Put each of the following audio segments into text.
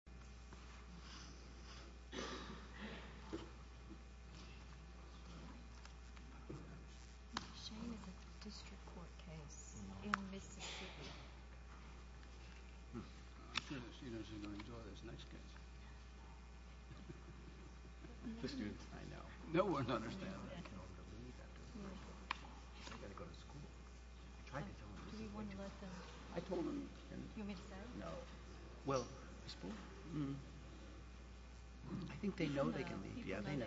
The following is a presentation of the TGS-Nopec Geophysical Service, Inc. v. TGS-Nopec I think they know they can leave. Yeah, they know.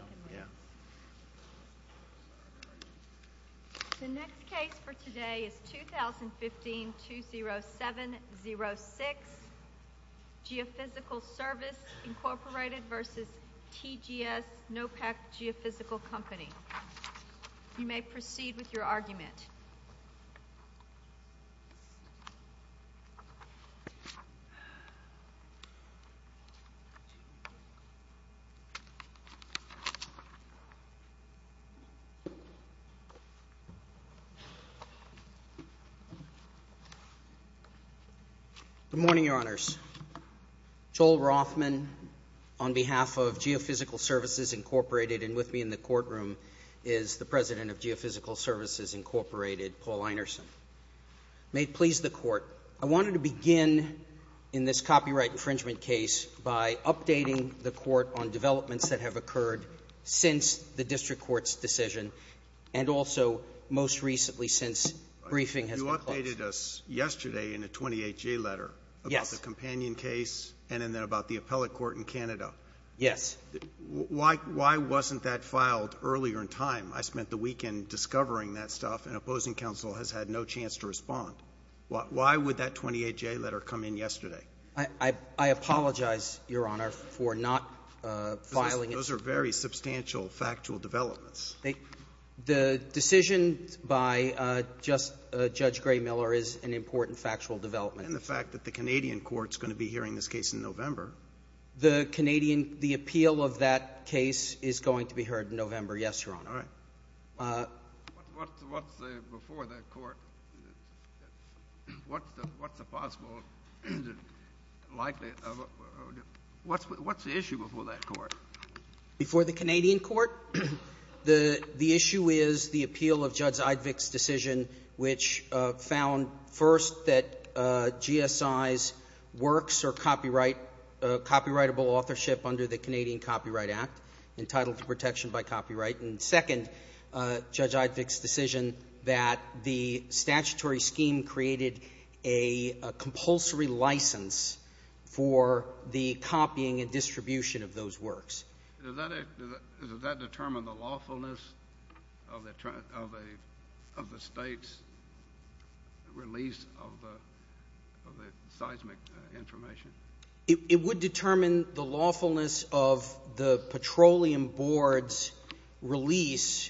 The next case for today is 2015-20706, Geophysical Service, Inc. v. TGS-Nopec Geophysical Company. You may proceed with your argument. Good morning, Your Honors. Joel Rothman, on behalf of Geophysical Services, Inc., and with me in the courtroom is the President of Geophysical Services, Inc., Paul Einerson. May it please the Court, I wanted to begin in this copyright infringement case by updating the Court on developments that have occurred since the district court's decision and also most recently since briefing has been closed. You updated us yesterday in a 28-J letter about the companion case and then about the appellate court in Canada. Yes. Why wasn't that filed earlier in time? I spent the weekend discovering that stuff, and opposing counsel has had no chance to respond. Why would that 28-J letter come in yesterday? I apologize, Your Honor, for not filing it. Those are very substantial factual developments. The decision by Judge Gray-Miller is an important factual development. And the fact that the Canadian court is going to be hearing this case in November. The appeal of that case is going to be heard in November, yes, Your Honor. All right. What's the issue before that court? Before the Canadian court? The issue is the appeal of Judge Eidvig's decision, which found, first, that GSI's works are copyrightable authorship under the Canadian Copyright Act, entitled to protection by copyright. And, second, Judge Eidvig's decision that the statutory scheme created a compulsory license for the copying and distribution of those works. Does that determine the lawfulness of the State's release of the seismic information? It would determine the lawfulness of the Petroleum Board's release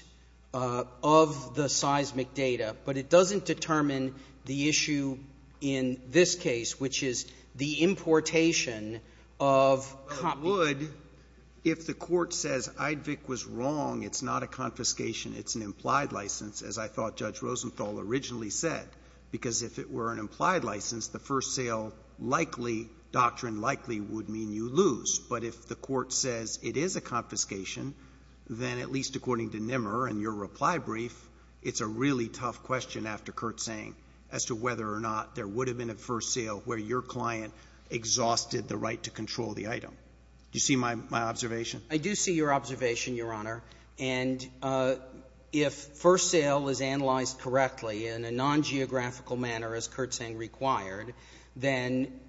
of the seismic data. But it doesn't determine the issue in this case, which is the importation of copies. Well, it would if the court says Eidvig was wrong. It's not a confiscation. It's an implied license, as I thought Judge Rosenthal originally said. Because if it were an implied license, the first sale likely, doctrine likely, would mean you lose. But if the court says it is a confiscation, then, at least according to Nimmer and your reply brief, it's a really tough question, after Kurt's saying, as to whether or not there would have been a first sale where your client exhausted the right to control the item. Do you see my observation? I do see your observation, Your Honor. And if first sale is analyzed correctly in a non-geographical manner, as Kurt's saying required, then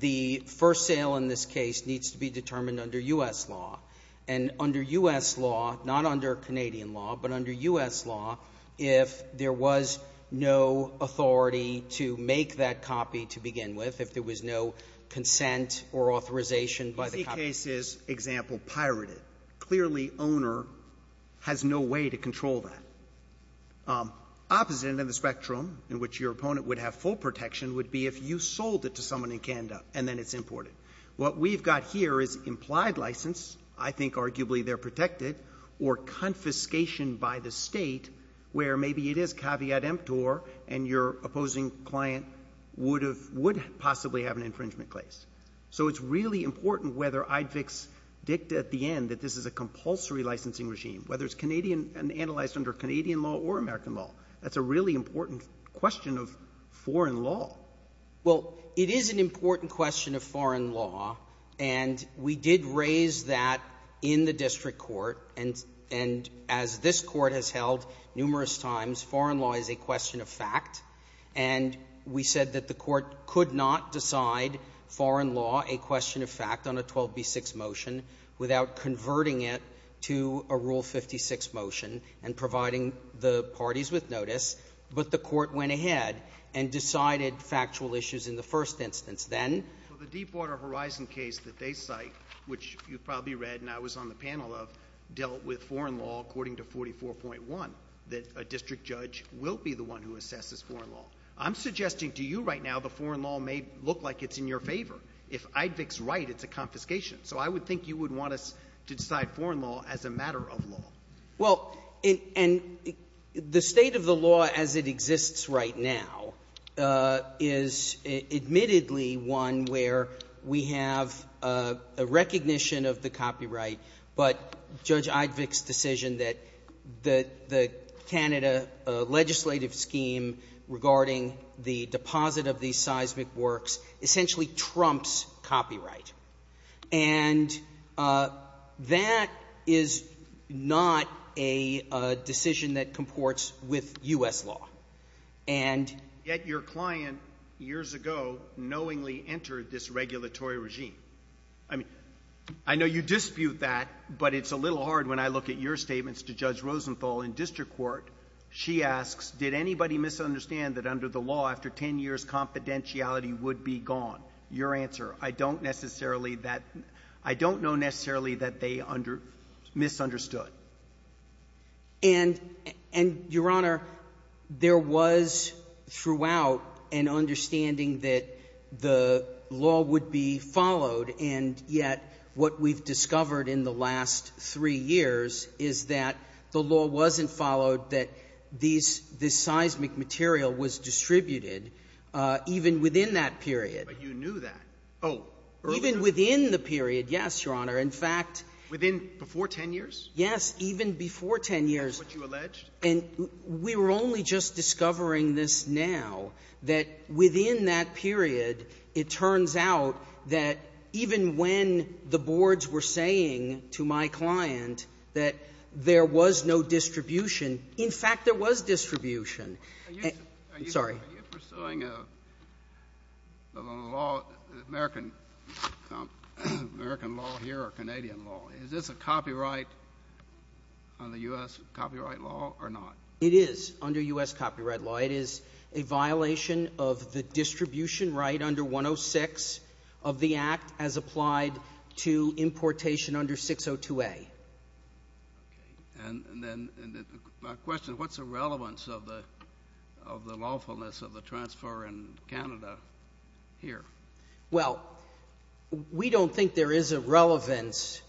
the first sale in this case needs to be determined under U.S. law. And under U.S. law, not under Canadian law, but under U.S. law, if there was no authority to make that copy to begin with, if there was no consent or authorization by the company. This case is, example, pirated. Clearly, owner has no way to control that. Opposite end of the spectrum, in which your opponent would have full protection, would be if you sold it to someone in Canada and then it's imported. What we've got here is implied license. I think arguably they're protected. Or confiscation by the State, where maybe it is caveat emptor and your opposing client would have — would possibly have an infringement case. So it's really important whether IDFICS dicta at the end that this is a compulsory licensing regime, whether it's Canadian — analyzed under Canadian law or American law. That's a really important question of foreign law. Well, it is an important question of foreign law. And we did raise that in the district court. And as this court has held numerous times, foreign law is a question of fact. And we said that the court could not decide foreign law a question of fact on a 12B6 motion without converting it to a Rule 56 motion and providing the parties with notice. But the court went ahead and decided factual issues in the first instance. Then — Well, the Deepwater Horizon case that they cite, which you probably read and I was on the panel of, dealt with foreign law according to 44.1, that a district judge will be the one who assesses foreign law. I'm suggesting to you right now the foreign law may look like it's in your favor. If IDFICS is right, it's a confiscation. So I would think you would want us to decide foreign law as a matter of law. Well, and the state of the law as it exists right now is admittedly one where we have a recognition of the copyright. But Judge IDFICS' decision that the Canada legislative scheme regarding the deposit of these seismic works essentially trumps copyright. And that is not a decision that comports with U.S. law. And — Yet your client years ago knowingly entered this regulatory regime. I mean, I know you dispute that, but it's a little hard when I look at your statements to Judge Rosenthal in district court. She asks, did anybody misunderstand that under the law after 10 years confidentiality would be gone? Your answer, I don't necessarily that — I don't know necessarily that they misunderstood. And, Your Honor, there was throughout an understanding that the law would be followed, and yet what we've discovered in the last three years is that the law wasn't followed, that these — this seismic material was distributed even within that period. But you knew that. Oh. Even within the period, yes, Your Honor. In fact — Within — before 10 years? Yes, even before 10 years. That's what you alleged? And we were only just discovering this now, that within that period, it turns out that even when the boards were saying to my client that there was no distribution, in fact, there was distribution. Are you — Sorry. Are you pursuing a law, American law here or Canadian law? Is this a copyright on the U.S. copyright law or not? It is under U.S. copyright law. It is a violation of the distribution right under 106 of the Act as applied to importation under 602A. Okay. And then my question, what's the relevance of the lawfulness of the transfer in Canada here? Well, we don't think there is a relevance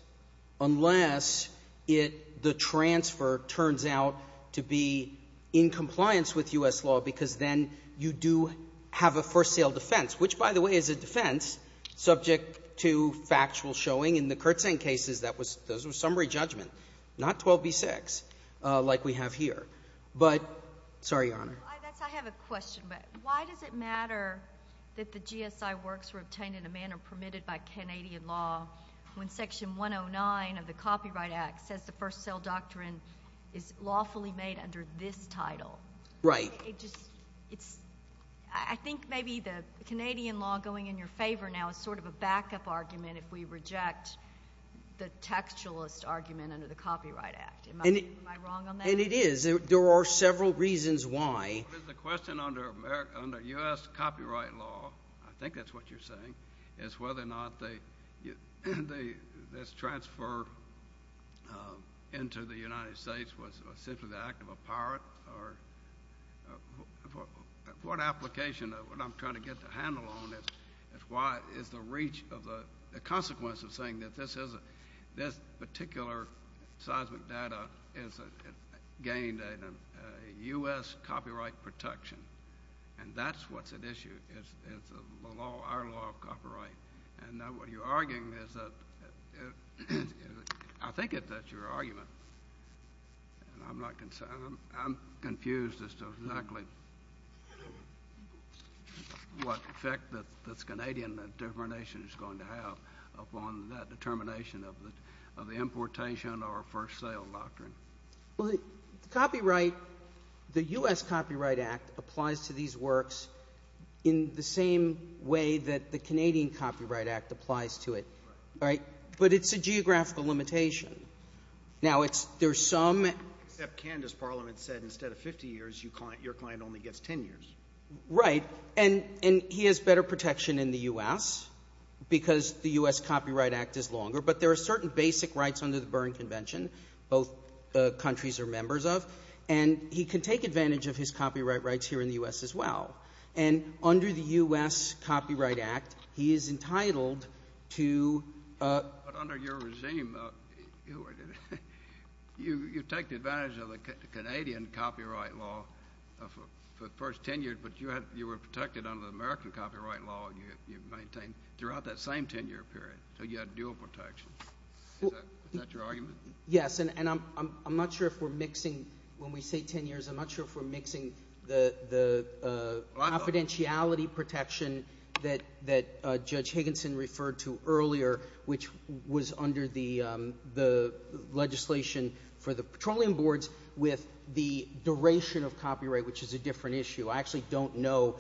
unless it — the transfer turns out to be in compliance with U.S. law because then you do have a first sale defense, which, by the way, is a defense subject to factual showing. In the Kurtzeng cases, that was — those were summary judgment, not 12B6 like we have here. But — Sorry, Your Honor. I have a question. Why does it matter that the GSI works were obtained in a manner permitted by Canadian law when Section 109 of the Copyright Act says the first sale doctrine is lawfully made under this title? Right. It just — it's — I think maybe the Canadian law going in your favor now is sort of a backup argument if we reject the textualist argument under the Copyright Act. Am I wrong on that? And it is. There are several reasons why. The question under U.S. copyright law — I think that's what you're saying — is whether or not this transfer into the United States was simply the act of a pirate or — what application of — what I'm trying to get the handle on is why — is the reach of the consequence of saying that this particular seismic data is gained in a U.S. copyright protection. And that's what's at issue. It's the law — our law of copyright. And now what you're arguing is that — I think that's your argument. And I'm not — I'm confused as to exactly what effect this Canadian determination is going to have upon that determination of the importation or first sale doctrine. Well, the copyright — the U.S. Copyright Act applies to these works in the same way that the Canadian Copyright Act applies to it. Right. But it's a geographical limitation. Now, it's — there's some — Except Canada's parliament said instead of 50 years, your client only gets 10 years. Right. And he has better protection in the U.S. because the U.S. Copyright Act is longer. But there are certain basic rights under the Berne Convention both countries are members of. And he can take advantage of his copyright rights here in the U.S. as well. And under the U.S. Copyright Act, he is entitled to — But under your regime, you take advantage of the Canadian copyright law for the first 10 years, but you were protected under the American copyright law and you maintained throughout that same 10-year period. So you had dual protection. Is that your argument? Yes. And I'm not sure if we're mixing — when we say 10 years, I'm not sure if we're mixing the confidentiality protection that Judge Higginson referred to earlier, which was under the legislation for the petroleum boards with the duration of copyright, which is a different issue. I actually don't know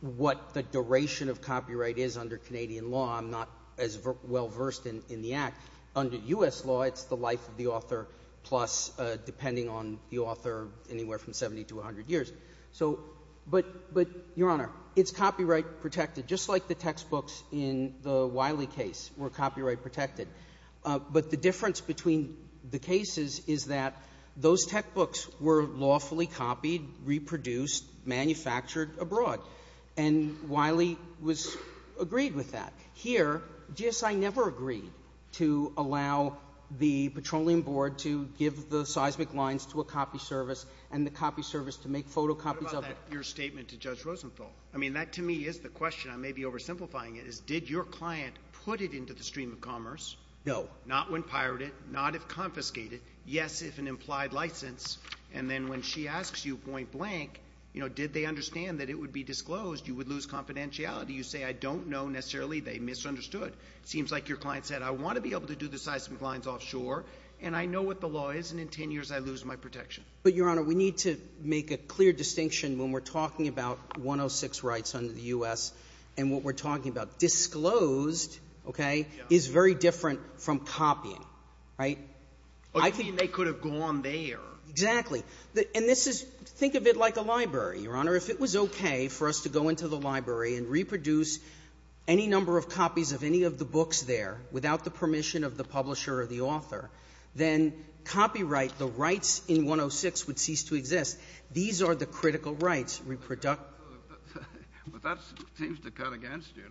what the duration of copyright is under Canadian law. I'm not as well-versed in the Act. Under U.S. law, it's the life of the author, plus depending on the author, anywhere from 70 to 100 years. So — but, Your Honor, it's copyright protected, just like the textbooks in the Wiley case were copyright protected. But the difference between the cases is that those textbooks were lawfully copied, reproduced, manufactured abroad. And Wiley was — agreed with that. Here, GSI never agreed to allow the petroleum board to give the seismic lines to a copy service and the copy service to make photocopies of it. What about that — your statement to Judge Rosenfeld? I mean, that to me is the question. I may be oversimplifying it. It's, did your client put it into the stream of commerce? No. Not when pirated, not if confiscated. Yes, if an implied license. And then when she asks you point-blank, you know, did they understand that it would be disclosed, you would lose confidentiality. You say, I don't know necessarily, they misunderstood. It seems like your client said, I want to be able to do the seismic lines offshore, and I know what the law is, and in 10 years, I lose my protection. But, Your Honor, we need to make a clear distinction when we're talking about 106 rights under the U.S. and what we're talking about. Disclosed, okay, is very different from copying. Right? But you mean they could have gone there. Exactly. And this is — think of it like a library, Your Honor. If it was okay for us to go into the library and reproduce any number of copies of any of the books there without the permission of the publisher or the author, then copyright, the rights in 106, would cease to exist. These are the critical rights. But that seems to cut against you.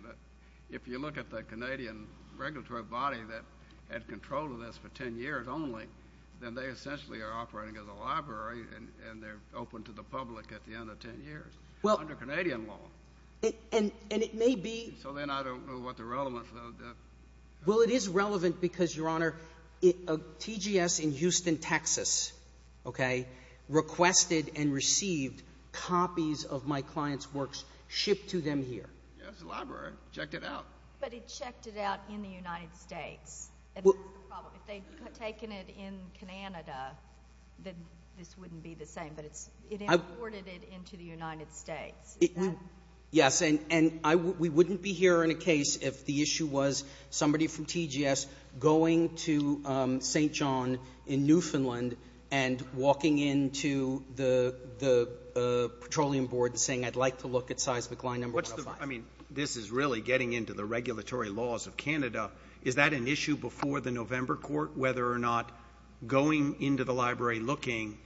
If you look at the Canadian regulatory body that had control of this for 10 years only, then they essentially are operating as a library, and they're open to the public at the end of 10 years under Canadian law. And it may be — So then I don't know what the relevance of that — Well, it is relevant because, Your Honor, TGS in Houston, Texas, okay, requested and received copies of my client's works shipped to them here. It's a library. Checked it out. But it checked it out in the United States. And that's the problem. If they had taken it in Canada, then this wouldn't be the same. But it imported it into the United States. Yes, and we wouldn't be here in a case if the issue was somebody from TGS going to St. Louis, the Petroleum Board, and saying, I'd like to look at seismic line number 105. I mean, this is really getting into the regulatory laws of Canada. Is that an issue before the November court, whether or not going into the library looking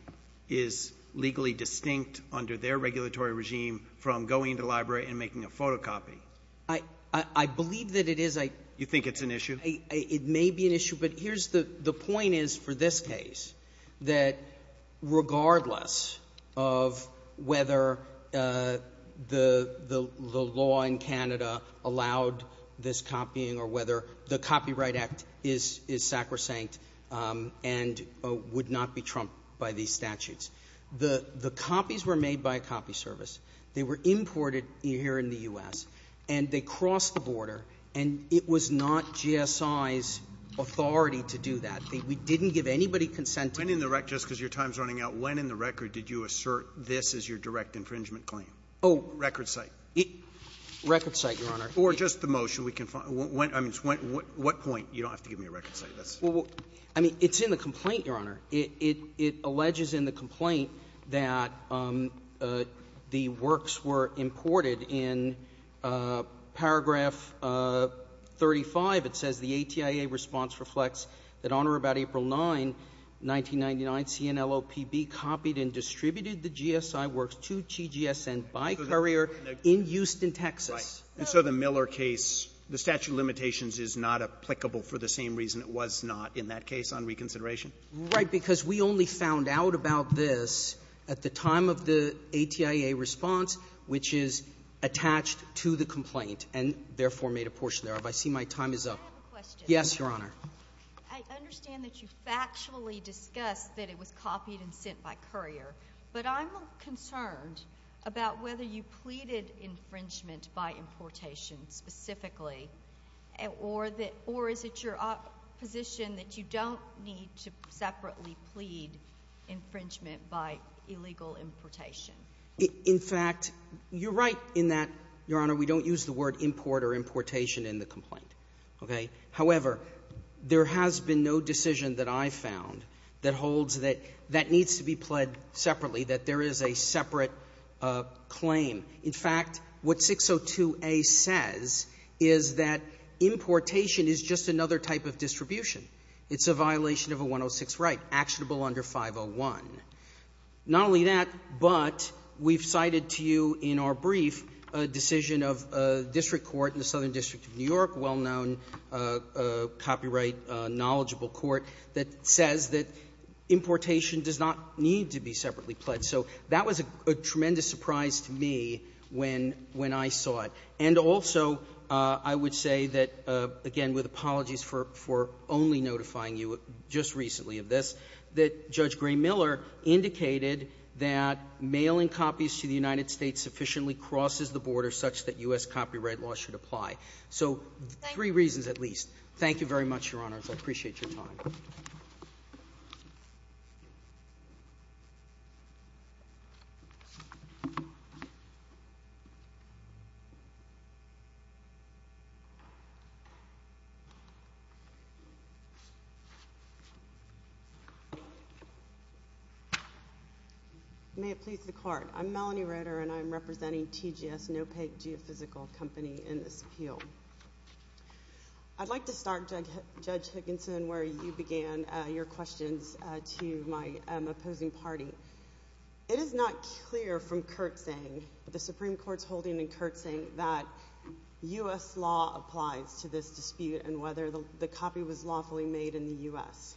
is legally distinct under their regulatory regime from going to the library and making a photocopy? I believe that it is. You think it's an issue? It may be an issue. But the point is for this case that regardless of whether the law in Canada allowed this copying or whether the Copyright Act is sacrosanct and would not be trumped by these statutes, the copies were made by a copy service. They were imported here in the U.S. And they crossed the border. And it was not GSI's authority to do that. We didn't give anybody consent to it. When in the record, just because your time is running out, when in the record did you assert this is your direct infringement claim? Oh, record site. Record site, Your Honor. Or just the motion we can find. I mean, what point? You don't have to give me a record site. I mean, it's in the complaint, Your Honor. It alleges in the complaint that the works were imported. In paragraph 35, it says the ATIA response reflects that on or about April 9, 1999, CNLOPB copied and distributed the GSI works to TGSN by courier in Houston, Texas. Right. And so the Miller case, the statute of limitations is not applicable for the same reason it was not in that case on reconsideration? Right, because we only found out about this at the time of the ATIA response, which is attached to the complaint and therefore made a portion thereof. I see my time is up. May I have a question? Yes, Your Honor. I understand that you factually discussed that it was copied and sent by courier. But I'm concerned about whether you pleaded infringement by importation specifically or is it your position that you don't need to separately plead infringement by illegal importation? In fact, you're right in that, Your Honor, we don't use the word import or importation in the complaint. However, there has been no decision that I found that holds that that needs to be pled separately, that there is a separate claim. In fact, what 602a says is that importation is just another type of distribution. It's a violation of a 106 right, actionable under 501. Not only that, but we've cited to you in our brief a decision of a district court in the Southern District of New York, a well-known copyright knowledgeable court, that says that importation does not need to be separately pled. So that was a tremendous surprise to me when I saw it. And also, I would say that, again, with apologies for only notifying you just recently of this, that Judge Gray-Miller indicated that mailing copies to the United States sufficiently crosses the border such that U.S. copyright law should apply. So three reasons at least. Thank you very much, Your Honors. I appreciate your time. Thank you. May it please the Court. I'm Melanie Roeder, and I'm representing TGS, NOPEG Geophysical Company, in this appeal. I'd like to start, Judge Higginson, where you began your questions to my opposing party. It is not clear from Kurtzing, the Supreme Court's holding in Kurtzing, that U.S. law applies to this dispute and whether the copy was lawfully made in the U.S.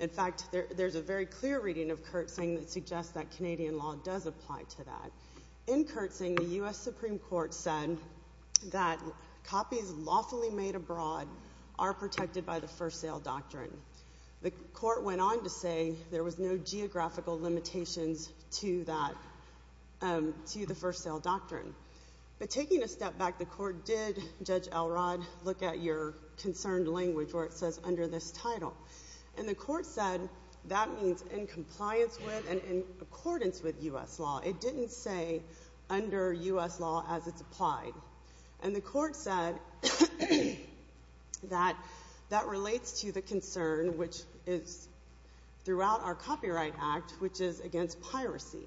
In fact, there's a very clear reading of Kurtzing that suggests that Canadian law does apply to that. In Kurtzing, the U.S. Supreme Court said that copies lawfully made abroad are protected by the First Sale Doctrine. The Court went on to say there was no geographical limitations to the First Sale Doctrine. But taking a step back, the Court did, Judge Elrod, look at your concerned language where it says, under this title. And the Court said that means in compliance with and in accordance with U.S. law. It didn't say under U.S. law as it's applied. And the Court said that that relates to the concern, which is throughout our Copyright Act, which is against piracy.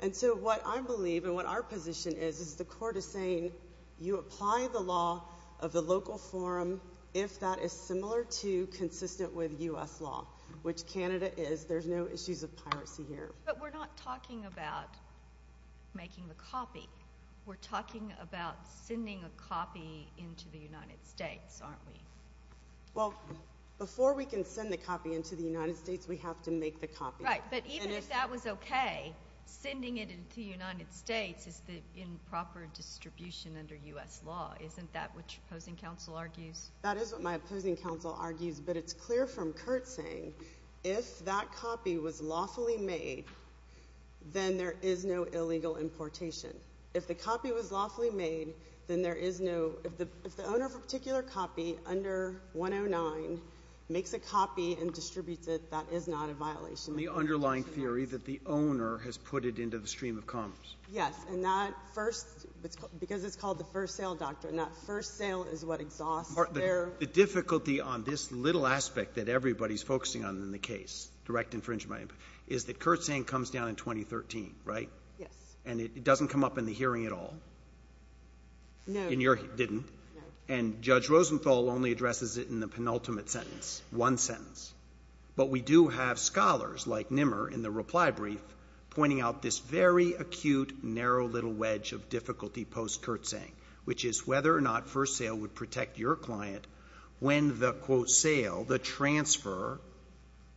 And so what I believe and what our position is, is the Court is saying you apply the law of the local forum if that is similar to consistent with U.S. law, which Canada is. There's no issues of piracy here. But we're not talking about making the copy. We're talking about sending a copy into the United States, aren't we? Well, before we can send the copy into the United States, we have to make the copy. Right. But even if that was okay, sending it into the United States is the improper distribution under U.S. law. Isn't that what your opposing counsel argues? That is what my opposing counsel argues. But it's clear from Curt's saying, if that copy was lawfully made, then there is no illegal importation. If the copy was lawfully made, then there is no — if the owner of a particular copy under 109 makes a copy and distributes it, that is not a violation. The underlying theory that the owner has put it into the stream of commerce. Yes. And that first — because it's called the first sale doctrine, that first sale is what exhausts their — Well, the difficulty on this little aspect that everybody is focusing on in the case, direct infringement, is that Curt's saying comes down in 2013, right? Yes. And it doesn't come up in the hearing at all. No. In your — didn't. No. And Judge Rosenthal only addresses it in the penultimate sentence, one sentence. But we do have scholars like Nimmer in the reply brief pointing out this very acute, narrow little wedge of difficulty post-Curt's saying, which is whether or not first sale would protect your client when the, quote, sale, the transfer,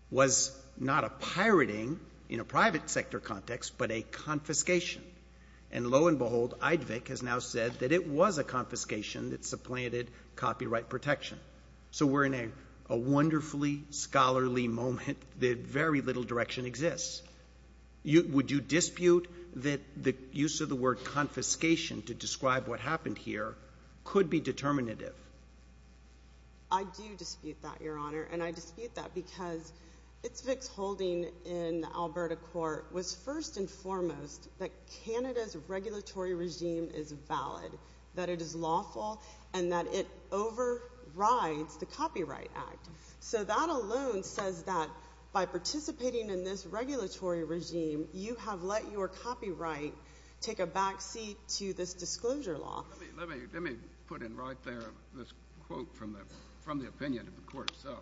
was not a pirating in a private sector context, but a confiscation. And lo and behold, Eidvig has now said that it was a confiscation that supplanted copyright protection. So we're in a wonderfully scholarly moment that very little direction exists. Would you dispute that the use of the word confiscation to describe what happened here could be determinative? I do dispute that, Your Honor. And I dispute that because Itzvik's holding in the Alberta court was first and foremost that Canada's regulatory regime is valid, that it is lawful, and that it overrides the Copyright Act. So that alone says that by participating in this regulatory regime, you have let your copyright take a backseat to this disclosure law. Let me put in right there this quote from the opinion of the court itself.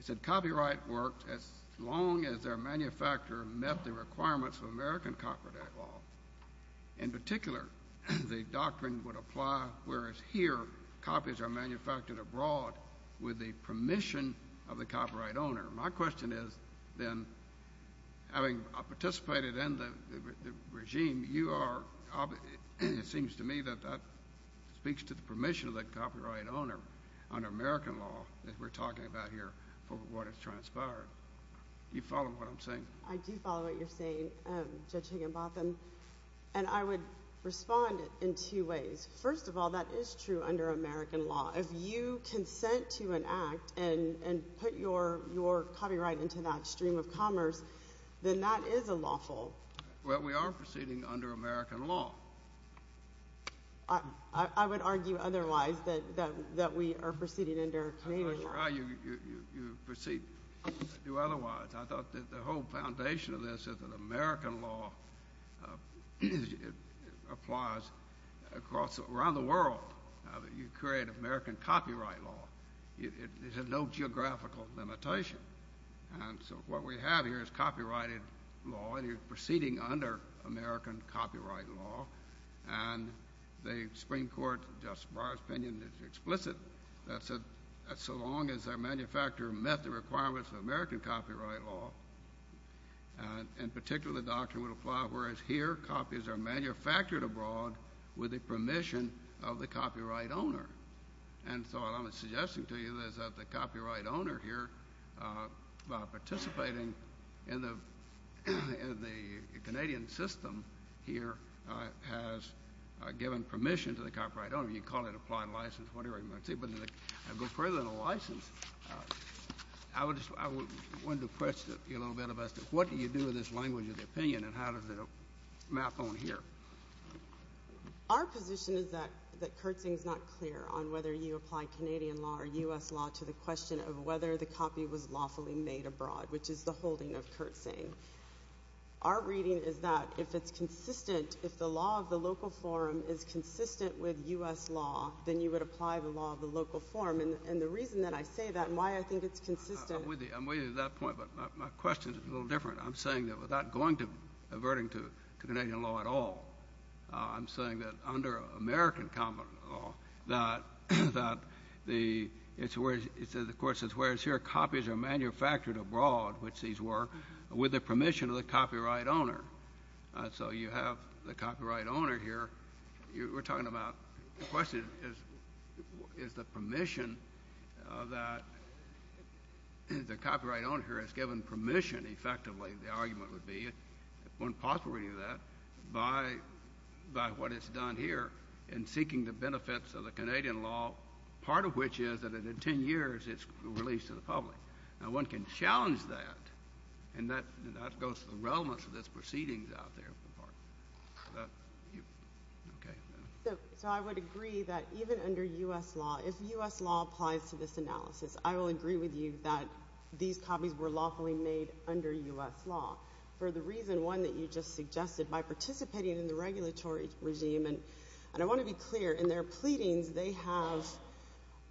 It said, copyright works as long as their manufacturer met the requirements of American Copyright Act law. In particular, the doctrine would apply whereas here, copies are manufactured abroad with the permission of the copyright owner. My question is, then, having participated in the regime, you are, it seems to me that that speaks to the permission of the copyright owner under American law that we're talking about here for what has transpired. Do you follow what I'm saying? I do follow what you're saying, Judge Higginbotham. And I would respond in two ways. First of all, that is true under American law. If you consent to an act and put your copyright into that stream of commerce, then that is unlawful. Well, we are proceeding under American law. I would argue otherwise that we are proceeding under Canadian law. I'm not sure how you proceed to do otherwise. I thought that the whole foundation of this is that American law applies across, around the world. You create American copyright law. It has no geographical limitation. And so what we have here is copyrighted law, and you're proceeding under American copyright law. And the Supreme Court, Justice Breyer's opinion is explicit that so long as a manufacturer met the requirements of American copyright law, in particular, the doctrine would apply, whereas here, copies are manufactured abroad with the permission of the copyright owner. And so what I'm suggesting to you is that the copyright owner here, by participating in the Canadian system here, has given permission to the copyright owner. You can call it applied license, whatever you want to see. But I go further than a license. I wanted to question you a little bit about what do you do with this language of opinion and how does it map on here? Our position is that Kurtzing is not clear on whether you apply Canadian law or U.S. law to the question of whether the copy was lawfully made abroad, which is the holding of Kurtzing. Our reading is that if it's consistent, if the law of the local forum is consistent with U.S. law, then you would apply the law of the local forum. And the reason that I say that and why I think it's consistent— I'm with you. I'm with you to that point, but my question is a little different. I'm saying that without averting to Canadian law at all, I'm saying that under American common law, that the court says, whereas here copies are manufactured abroad, which these were, with the permission of the copyright owner. So you have the copyright owner here. We're talking about—the question is, is the permission that the copyright owner here has given permission, effectively, the argument would be, if one possibly knew that, by what it's done here in seeking the benefits of the Canadian law, part of which is that in 10 years, it's released to the public. Now, one can challenge that, and that goes to the relevance of this proceedings out there. So I would agree that even under U.S. law, if U.S. law applies to this analysis, I will agree with you that these copies were lawfully made under U.S. law. For the reason, one, that you just suggested, by participating in the regulatory regime—and I want to be clear, in their pleadings, they have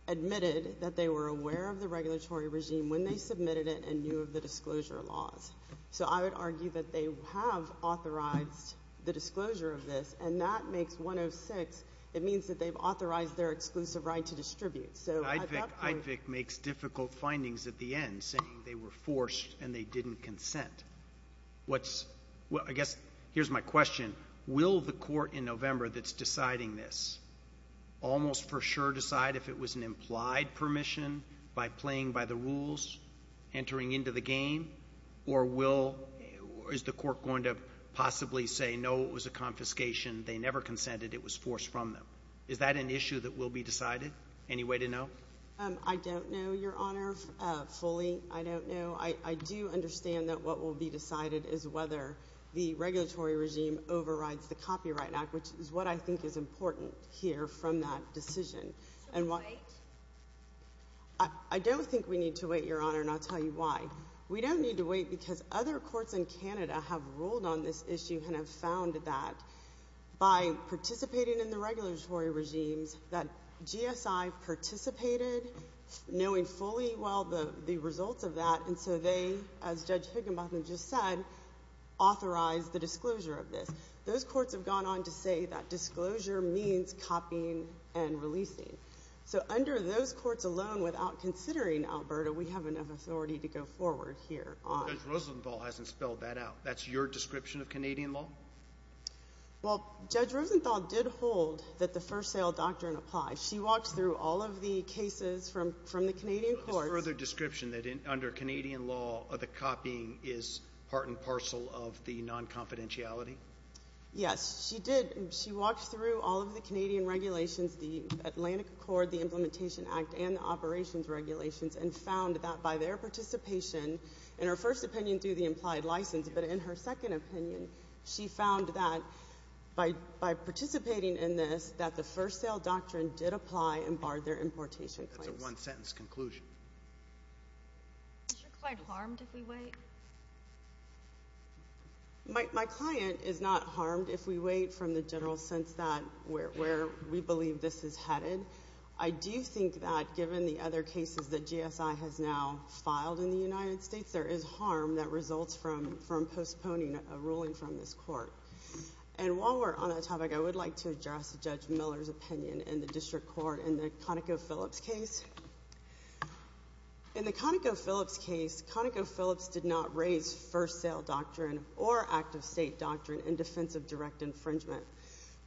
admitted that they were aware of the regulatory regime when they submitted it and knew of the disclosure laws. So I would argue that they have authorized the disclosure of this, and that makes 106—it means that they've authorized their exclusive right to distribute. So I'd have to— I'd think I'd think makes difficult findings at the end, saying they were forced and they didn't consent. What's—well, I guess here's my question. Will the court in November that's deciding this almost for sure decide if it was an implied permission by playing by the rules, entering into the game, or will—is the court going to possibly say, no, it was a confiscation, they never consented, it was forced from them? Is that an issue that will be decided? Any way to know? I don't know, Your Honor, fully. I don't know. I do understand that what will be decided is whether the regulatory regime overrides the Copyright Act, which is what I think is important here from that decision. So wait? I don't think we need to wait, Your Honor, and I'll tell you why. We don't need to wait because other courts in Canada have ruled on this issue and have found that by participating in the regulatory regimes that GSI participated, knowing fully well the results of that, and so they, as Judge Higginbotham just said, authorized the disclosure of this. Those courts have gone on to say that disclosure means copying and releasing. So under those courts alone, without considering Alberta, we have enough authority to go forward here on— Judge Rosenthal hasn't spelled that out. That's your description of Canadian law? Well, Judge Rosenthal did hold that the First Sale Doctrine applies. She walked through all of the cases from the Canadian courts— There's further description that under Canadian law, the copying is part and parcel of the non-confidentiality? Yes, she did. She walked through all of the Canadian regulations, the Atlantic Accord, the Implementation Act, and the Operations Regulations, and found that by their participation in her first opinion She didn't do the implied license, but in her second opinion, she found that by participating in this, that the First Sale Doctrine did apply and barred their importation claims. That's a one-sentence conclusion. Is your client harmed if we wait? My client is not harmed if we wait from the general sense that where we believe this is headed. I do think that given the other cases that GSI has now filed in the United States, there is harm that results from postponing a ruling from this court. And while we're on that topic, I would like to address Judge Miller's opinion in the District Court in the ConocoPhillips case. In the ConocoPhillips case, ConocoPhillips did not raise First Sale Doctrine or Active State Doctrine in defense of direct infringement.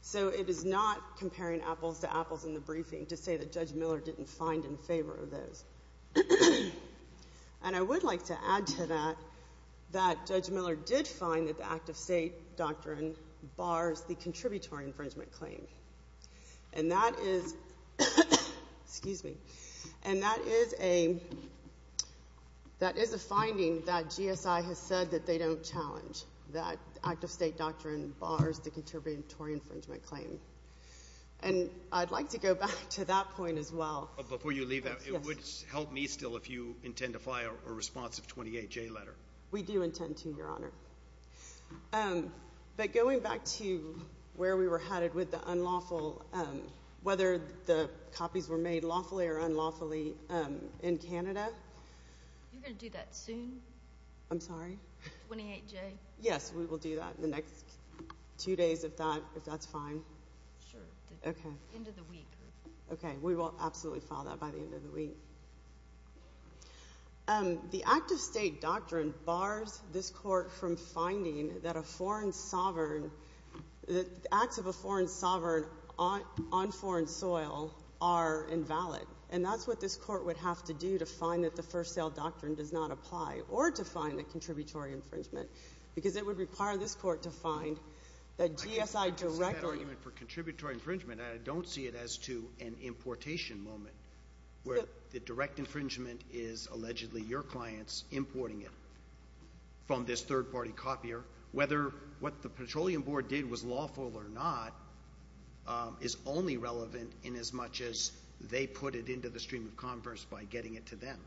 So it is not comparing apples to apples in the briefing to say that Judge Miller didn't find in favor of those. And I would like to add to that that Judge Miller did find that the Active State Doctrine bars the contributory infringement claim. And that is a finding that GSI has said that they don't challenge, that Active State Doctrine bars the contributory infringement claim. And I'd like to go back to that point as well. Before you leave that, it would help me still if you intend to file a responsive 28J letter. We do intend to, Your Honor. But going back to where we were headed with the unlawful, whether the copies were made lawfully or unlawfully in Canada. You're going to do that soon? I'm sorry? 28J? Yes, we will do that in the next two days if that's fine. Sure. Okay. End of the week. Okay. We will absolutely file that by the end of the week. The Active State Doctrine bars this Court from finding that acts of a foreign sovereign on foreign soil are invalid. And that's what this Court would have to do to find that the First Sale Doctrine does not apply, or to find the contributory infringement. Because it would require this Court to find that GSI directly— —to an importation moment where the direct infringement is allegedly your clients importing it from this third-party copier. Whether what the Petroleum Board did was lawful or not is only relevant in as much as they put it into the stream of converse by getting it to them.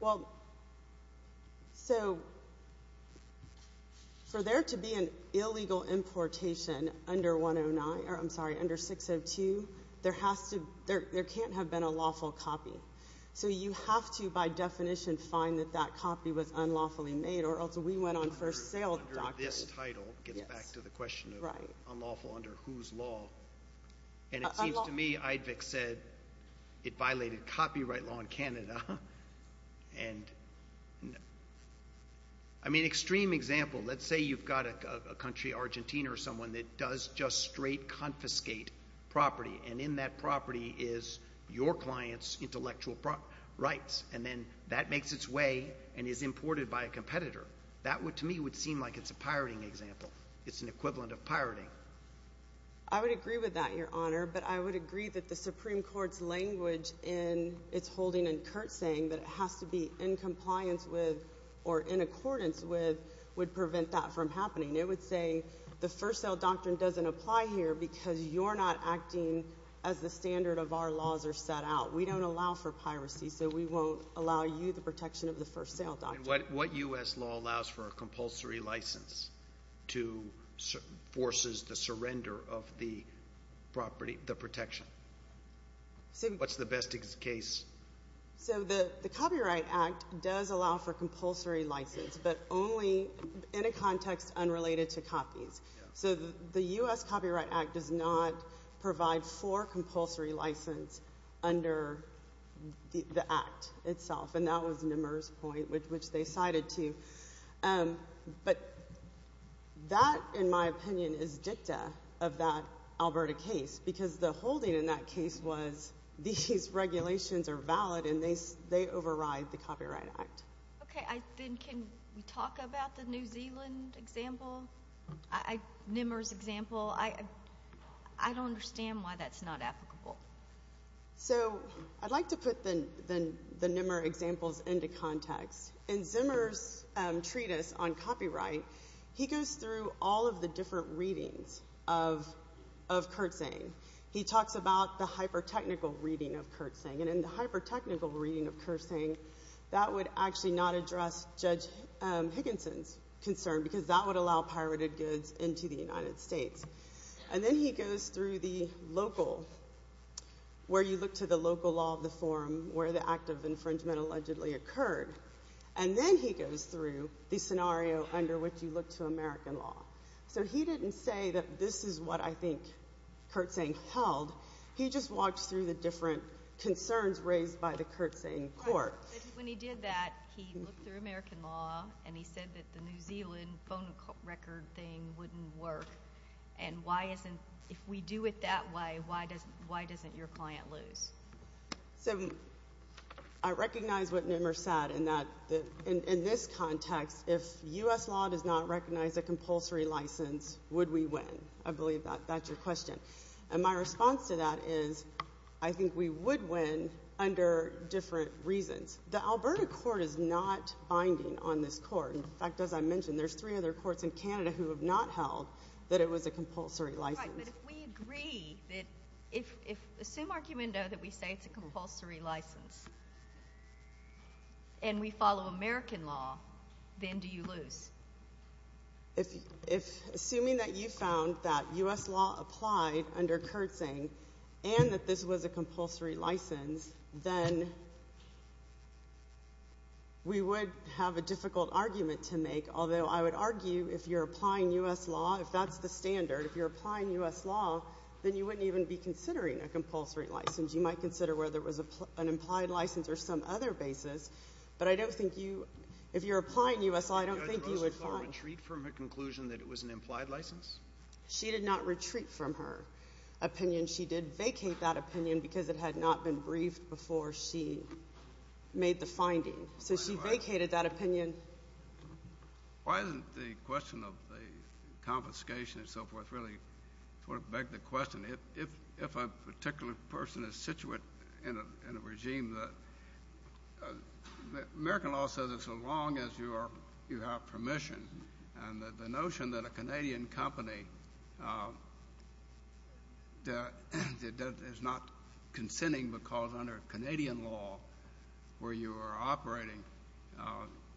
Well, so for there to be an illegal importation under 109—or I'm sorry, under 602, there has to—there can't have been a lawful copy. So you have to, by definition, find that that copy was unlawfully made or else we went on First Sale Doctrine. This title gets back to the question of unlawful under whose law. And it seems to me Eidvig said it violated copyright law in Canada. And, I mean, extreme example. Let's say you've got a country, Argentina or someone, that does just straight confiscate property. And in that property is your client's intellectual rights. And then that makes its way and is imported by a competitor. That, to me, would seem like it's a pirating example. It's an equivalent of pirating. I would agree with that, Your Honor. But I would agree that the Supreme Court's language in its holding and Kurt saying that it has to be in compliance with or in accordance with would prevent that from happening. It would say the First Sale Doctrine doesn't apply here because you're not acting as the standard of our laws are set out. We don't allow for piracy. So we won't allow you the protection of the First Sale Doctrine. And what U.S. law allows for a compulsory license to—forces the surrender of the property, the protection? What's the best case? So the Copyright Act does allow for compulsory license. But only in a context unrelated to copies. So the U.S. Copyright Act does not provide for compulsory license under the act itself. And that was Nimmer's point, which they cited too. But that, in my opinion, is dicta of that Alberta case because the holding in that case was these regulations are valid and they override the Copyright Act. Okay. Then can we talk about the New Zealand example? Nimmer's example. I don't understand why that's not applicable. So I'd like to put the Nimmer examples into context. In Zimmer's treatise on copyright, he goes through all of the different readings of Kertzing. He talks about the hyper-technical reading of Kertzing. And in the hyper-technical reading of Kertzing, that would actually not address Judge Higginson's concern because that would allow pirated goods into the United States. And then he goes through the local, where you look to the local law of the forum, where the act of infringement allegedly occurred. And then he goes through the scenario under which you look to American law. So he didn't say that this is what I think Kertzing held. He just walked through the different concerns raised by the Kertzing court. But when he did that, he looked through American law, and he said that the New Zealand phone record thing wouldn't work. And if we do it that way, why doesn't your client lose? So I recognize what Nimmer said in this context. If U.S. law does not recognize a compulsory license, would we win? I believe that's your question. And my response to that is I think we would win under different reasons. The Alberta court is not binding on this court. In fact, as I mentioned, there's three other courts in Canada who have not held that it was a compulsory license. Right, but if we agree that if we say it's a compulsory license and we follow American law, then do you lose? If assuming that you found that U.S. law applied under Kertzing and that this was a compulsory license, then we would have a difficult argument to make. Although I would argue if you're applying U.S. law, if that's the standard, if you're applying U.S. law, then you wouldn't even be considering a compulsory license. You might consider whether it was an implied license or some other basis. But I don't think you – if you're applying U.S. law, I don't think you would find – Did Rosenthal retreat from her conclusion that it was an implied license? She did not retreat from her opinion. She did vacate that opinion because it had not been briefed before she made the finding. So she vacated that opinion. Why doesn't the question of the confiscation and so forth really sort of beg the question? If a particular person is situated in a regime, American law says as long as you have permission. And the notion that a Canadian company is not consenting because under Canadian law where you are operating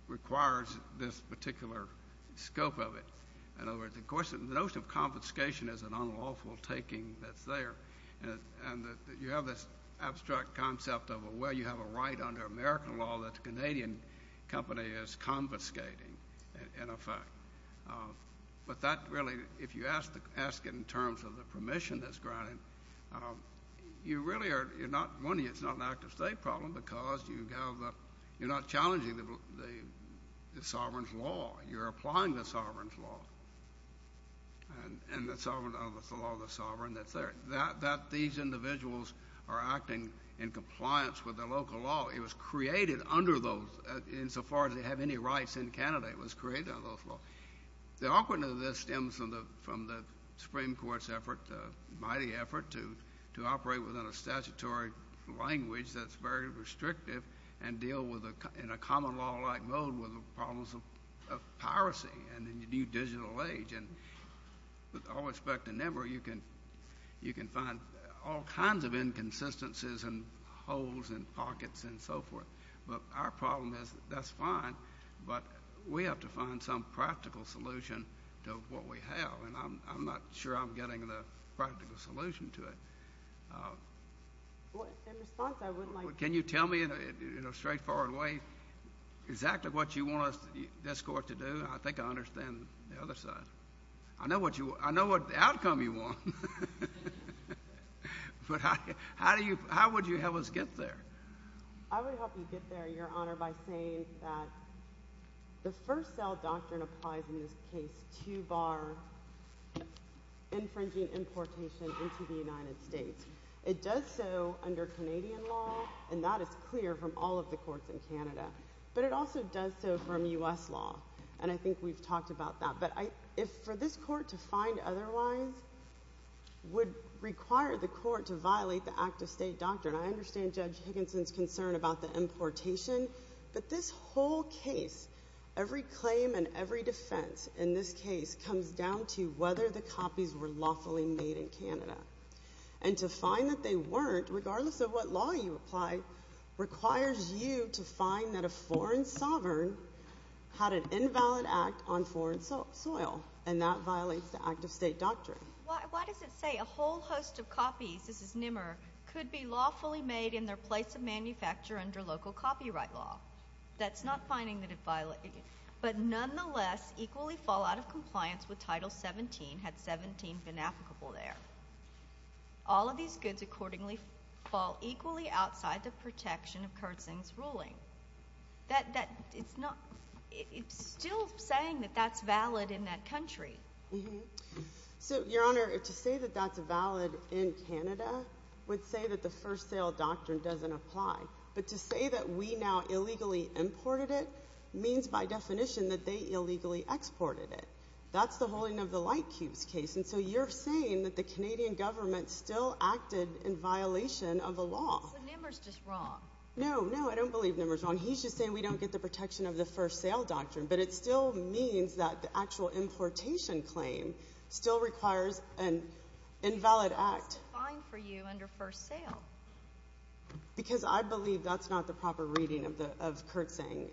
requires this particular scope of it. In other words, the notion of confiscation is an unlawful taking that's there. And you have this abstract concept of where you have a right under American law that the Canadian company is confiscating, in effect. But that really – if you ask it in terms of the permission that's granted, you really are – one, it's not an active state problem because you have – you're not challenging the sovereign's law. You're applying the sovereign's law. And the sovereign – it's the law of the sovereign that's there. These individuals are acting in compliance with the local law. It was created under those insofar as they have any rights in Canada. It was created under those laws. The awkwardness of this stems from the Supreme Court's effort, mighty effort, to operate within a statutory language that's very restrictive and deal in a common law-like mode with the problems of piracy and the new digital age. And with all respect to NIMR, you can find all kinds of inconsistencies and holes and pockets and so forth. But our problem is that's fine, but we have to find some practical solution to what we have. And I'm not sure I'm getting the practical solution to it. In response, I would like to— Can you tell me in a straightforward way exactly what you want this Court to do? I think I understand the other side. I know what outcome you want. But how do you – how would you help us get there? I would help you get there, Your Honor, by saying that the first cell doctrine applies in this case to bar infringing importation into the United States. It does so under Canadian law, and that is clear from all of the courts in Canada. But it also does so from U.S. law, and I think we've talked about that. But for this Court to find otherwise would require the Court to violate the act-of-state doctrine. I understand Judge Higginson's concern about the importation, but this whole case, every claim and every defense in this case, comes down to whether the copies were lawfully made in Canada. And to find that they weren't, regardless of what law you apply, requires you to find that a foreign sovereign had an invalid act on foreign soil, and that violates the act-of-state doctrine. Why does it say a whole host of copies, this is Nimmer, could be lawfully made in their place of manufacture under local copyright law? That's not finding that it violates— But nonetheless, equally fall out of compliance with Title 17 had 17 been applicable there. All of these goods accordingly fall equally outside the protection of Kersing's ruling. That—it's not—it's still saying that that's valid in that country. So, Your Honor, to say that that's valid in Canada would say that the first sale doctrine doesn't apply. But to say that we now illegally imported it means, by definition, that they illegally exported it. That's the holding of the light cubes case, and so you're saying that the Canadian government still acted in violation of the law. So, Nimmer's just wrong. No, no, I don't believe Nimmer's wrong. He's just saying we don't get the protection of the first sale doctrine, but it still means that the actual importation claim still requires an invalid act. Why is it fine for you under first sale? Because I believe that's not the proper reading of Kersing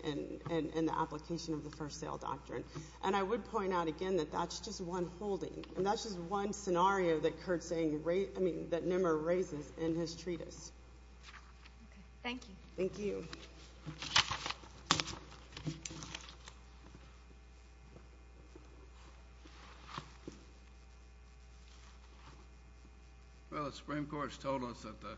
in the application of the first sale doctrine. And I would point out again that that's just one holding, and that's just one scenario that Kersing—I mean, that Nimmer raises in his treatise. Thank you. Well, the Supreme Court's told us that the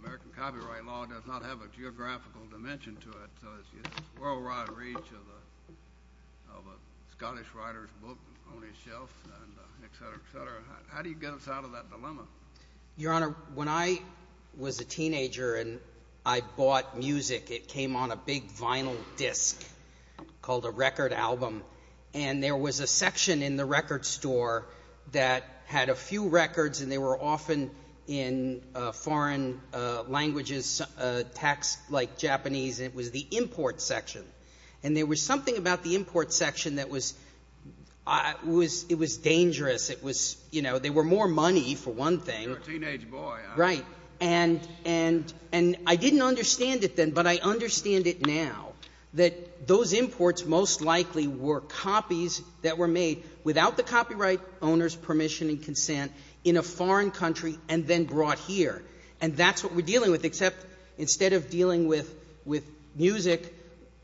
American copyright law does not have a geographical dimension to it, so it's a world-wide reach of a Scottish writer's book on his shelf, et cetera, et cetera. How do you get us out of that dilemma? Your Honor, when I was a teenager and I bought music, it came on a big vinyl disc called a record album, and there was a section in the record store that had a few records, and they were often in foreign languages, text like Japanese. It was the import section. And there was something about the import section that was—it was dangerous. It was—you know, there were more money, for one thing. You're a teenage boy. Right. And I didn't understand it then, but I understand it now, that those imports most likely were copies that were made without the copyright owner's permission and consent in a foreign country and then brought here. And that's what we're dealing with, except instead of dealing with music,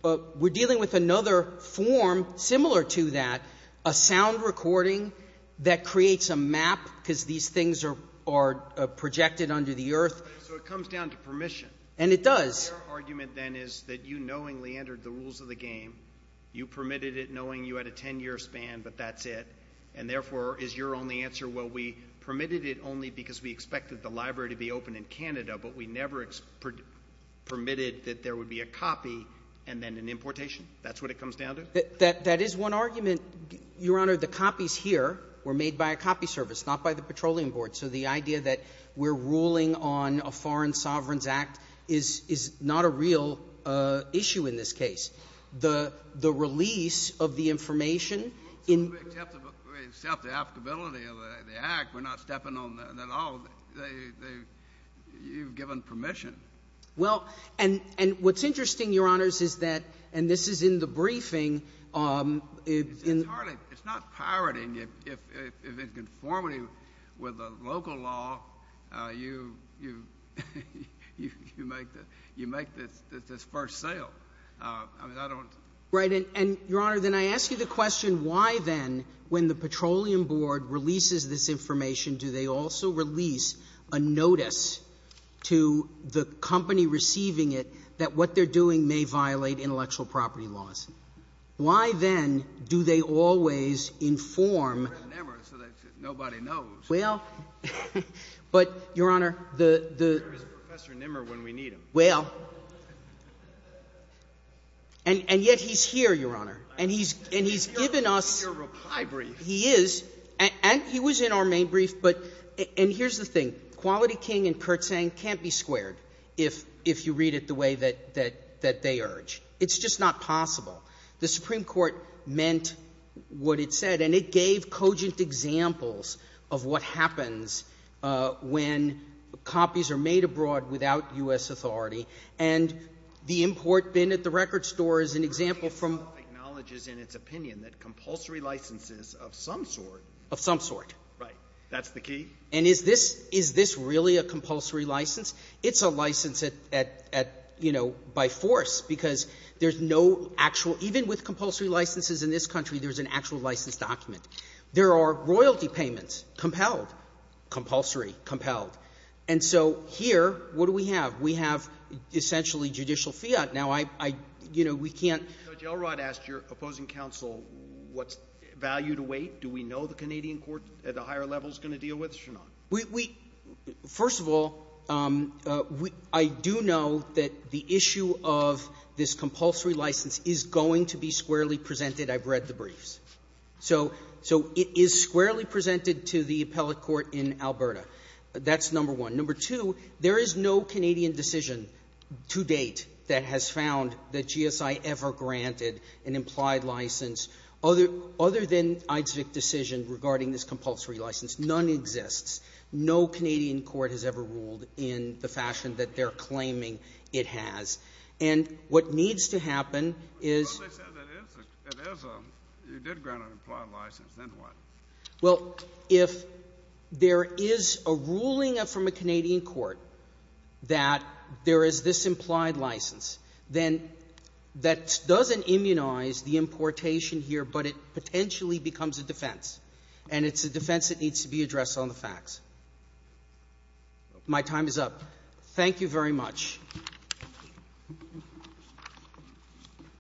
we're dealing with another form similar to that, a sound recording that creates a map, because these things are projected under the earth. So it comes down to permission. And it does. Your argument then is that you knowingly entered the rules of the game. You permitted it knowing you had a 10-year span, but that's it, and therefore is your only answer, well, we permitted it only because we expected the library to be open in Canada, but we never permitted that there would be a copy and then an importation? That's what it comes down to? That is one argument. Your Honor, the copies here were made by a copy service, not by the Petroleum Board, so the idea that we're ruling on a Foreign Sovereigns Act is not a real issue in this case. The release of the information in the act, we're not stepping on that at all. You've given permission. Well, and what's interesting, Your Honors, is that, and this is in the briefing, it's entirely, it's not pirating. If it's conformity with the local law, you make this first sale. I mean, I don't. Right. And, Your Honor, then I ask you the question, why then, when the Petroleum Board releases this information, do they also release a notice to the company receiving it that what they're doing may violate intellectual property laws? Why, then, do they always inform? Well, but, Your Honor, the — There is Professor Nimmer when we need him. Well. And yet he's here, Your Honor. And he's given us — He's here. He's here. He's here. He's here. He's here. He's here. I mean, this is a very brief, but — and here's the thing. Quality King and Kurtzang can't be squared if you read it the way that they urge. It's just not possible. The Supreme Court meant what it said, and it gave cogent examples of what happens when copies are made abroad without U.S. authority. And the import bin at the record store is an example from — Quality King itself acknowledges in its opinion that compulsory licenses of some sort — Of some sort. Right. That's the key. And is this — is this really a compulsory license? It's a license at — at, you know, by force, because there's no actual — even with compulsory licenses in this country, there's an actual license document. There are royalty payments, compelled, compulsory, compelled. And so here, what do we have? We have essentially judicial fiat. Now, I — I — you know, we can't — Judge Elrod asked your opposing counsel, what's value to weight? Do we know the Canadian court at a higher level is going to deal with this or not? We — we — first of all, we — I do know that the issue of this compulsory license is going to be squarely presented. I've read the briefs. So — so it is squarely presented to the appellate court in Alberta. That's number one. Number two, there is no Canadian decision to date that has found that GSI ever granted an implied license other — other than Eidsvig decision regarding this compulsory license. None exists. No Canadian court has ever ruled in the fashion that they're claiming it has. And what needs to happen is — Well, they said it is a — it is a — you did grant an implied license. Then what? Well, if there is a ruling from a Canadian court that there is this implied license, then that doesn't immunize the importation here, but it potentially becomes a defense. And it's a defense that needs to be addressed on the facts. My time is up. Thank you very much.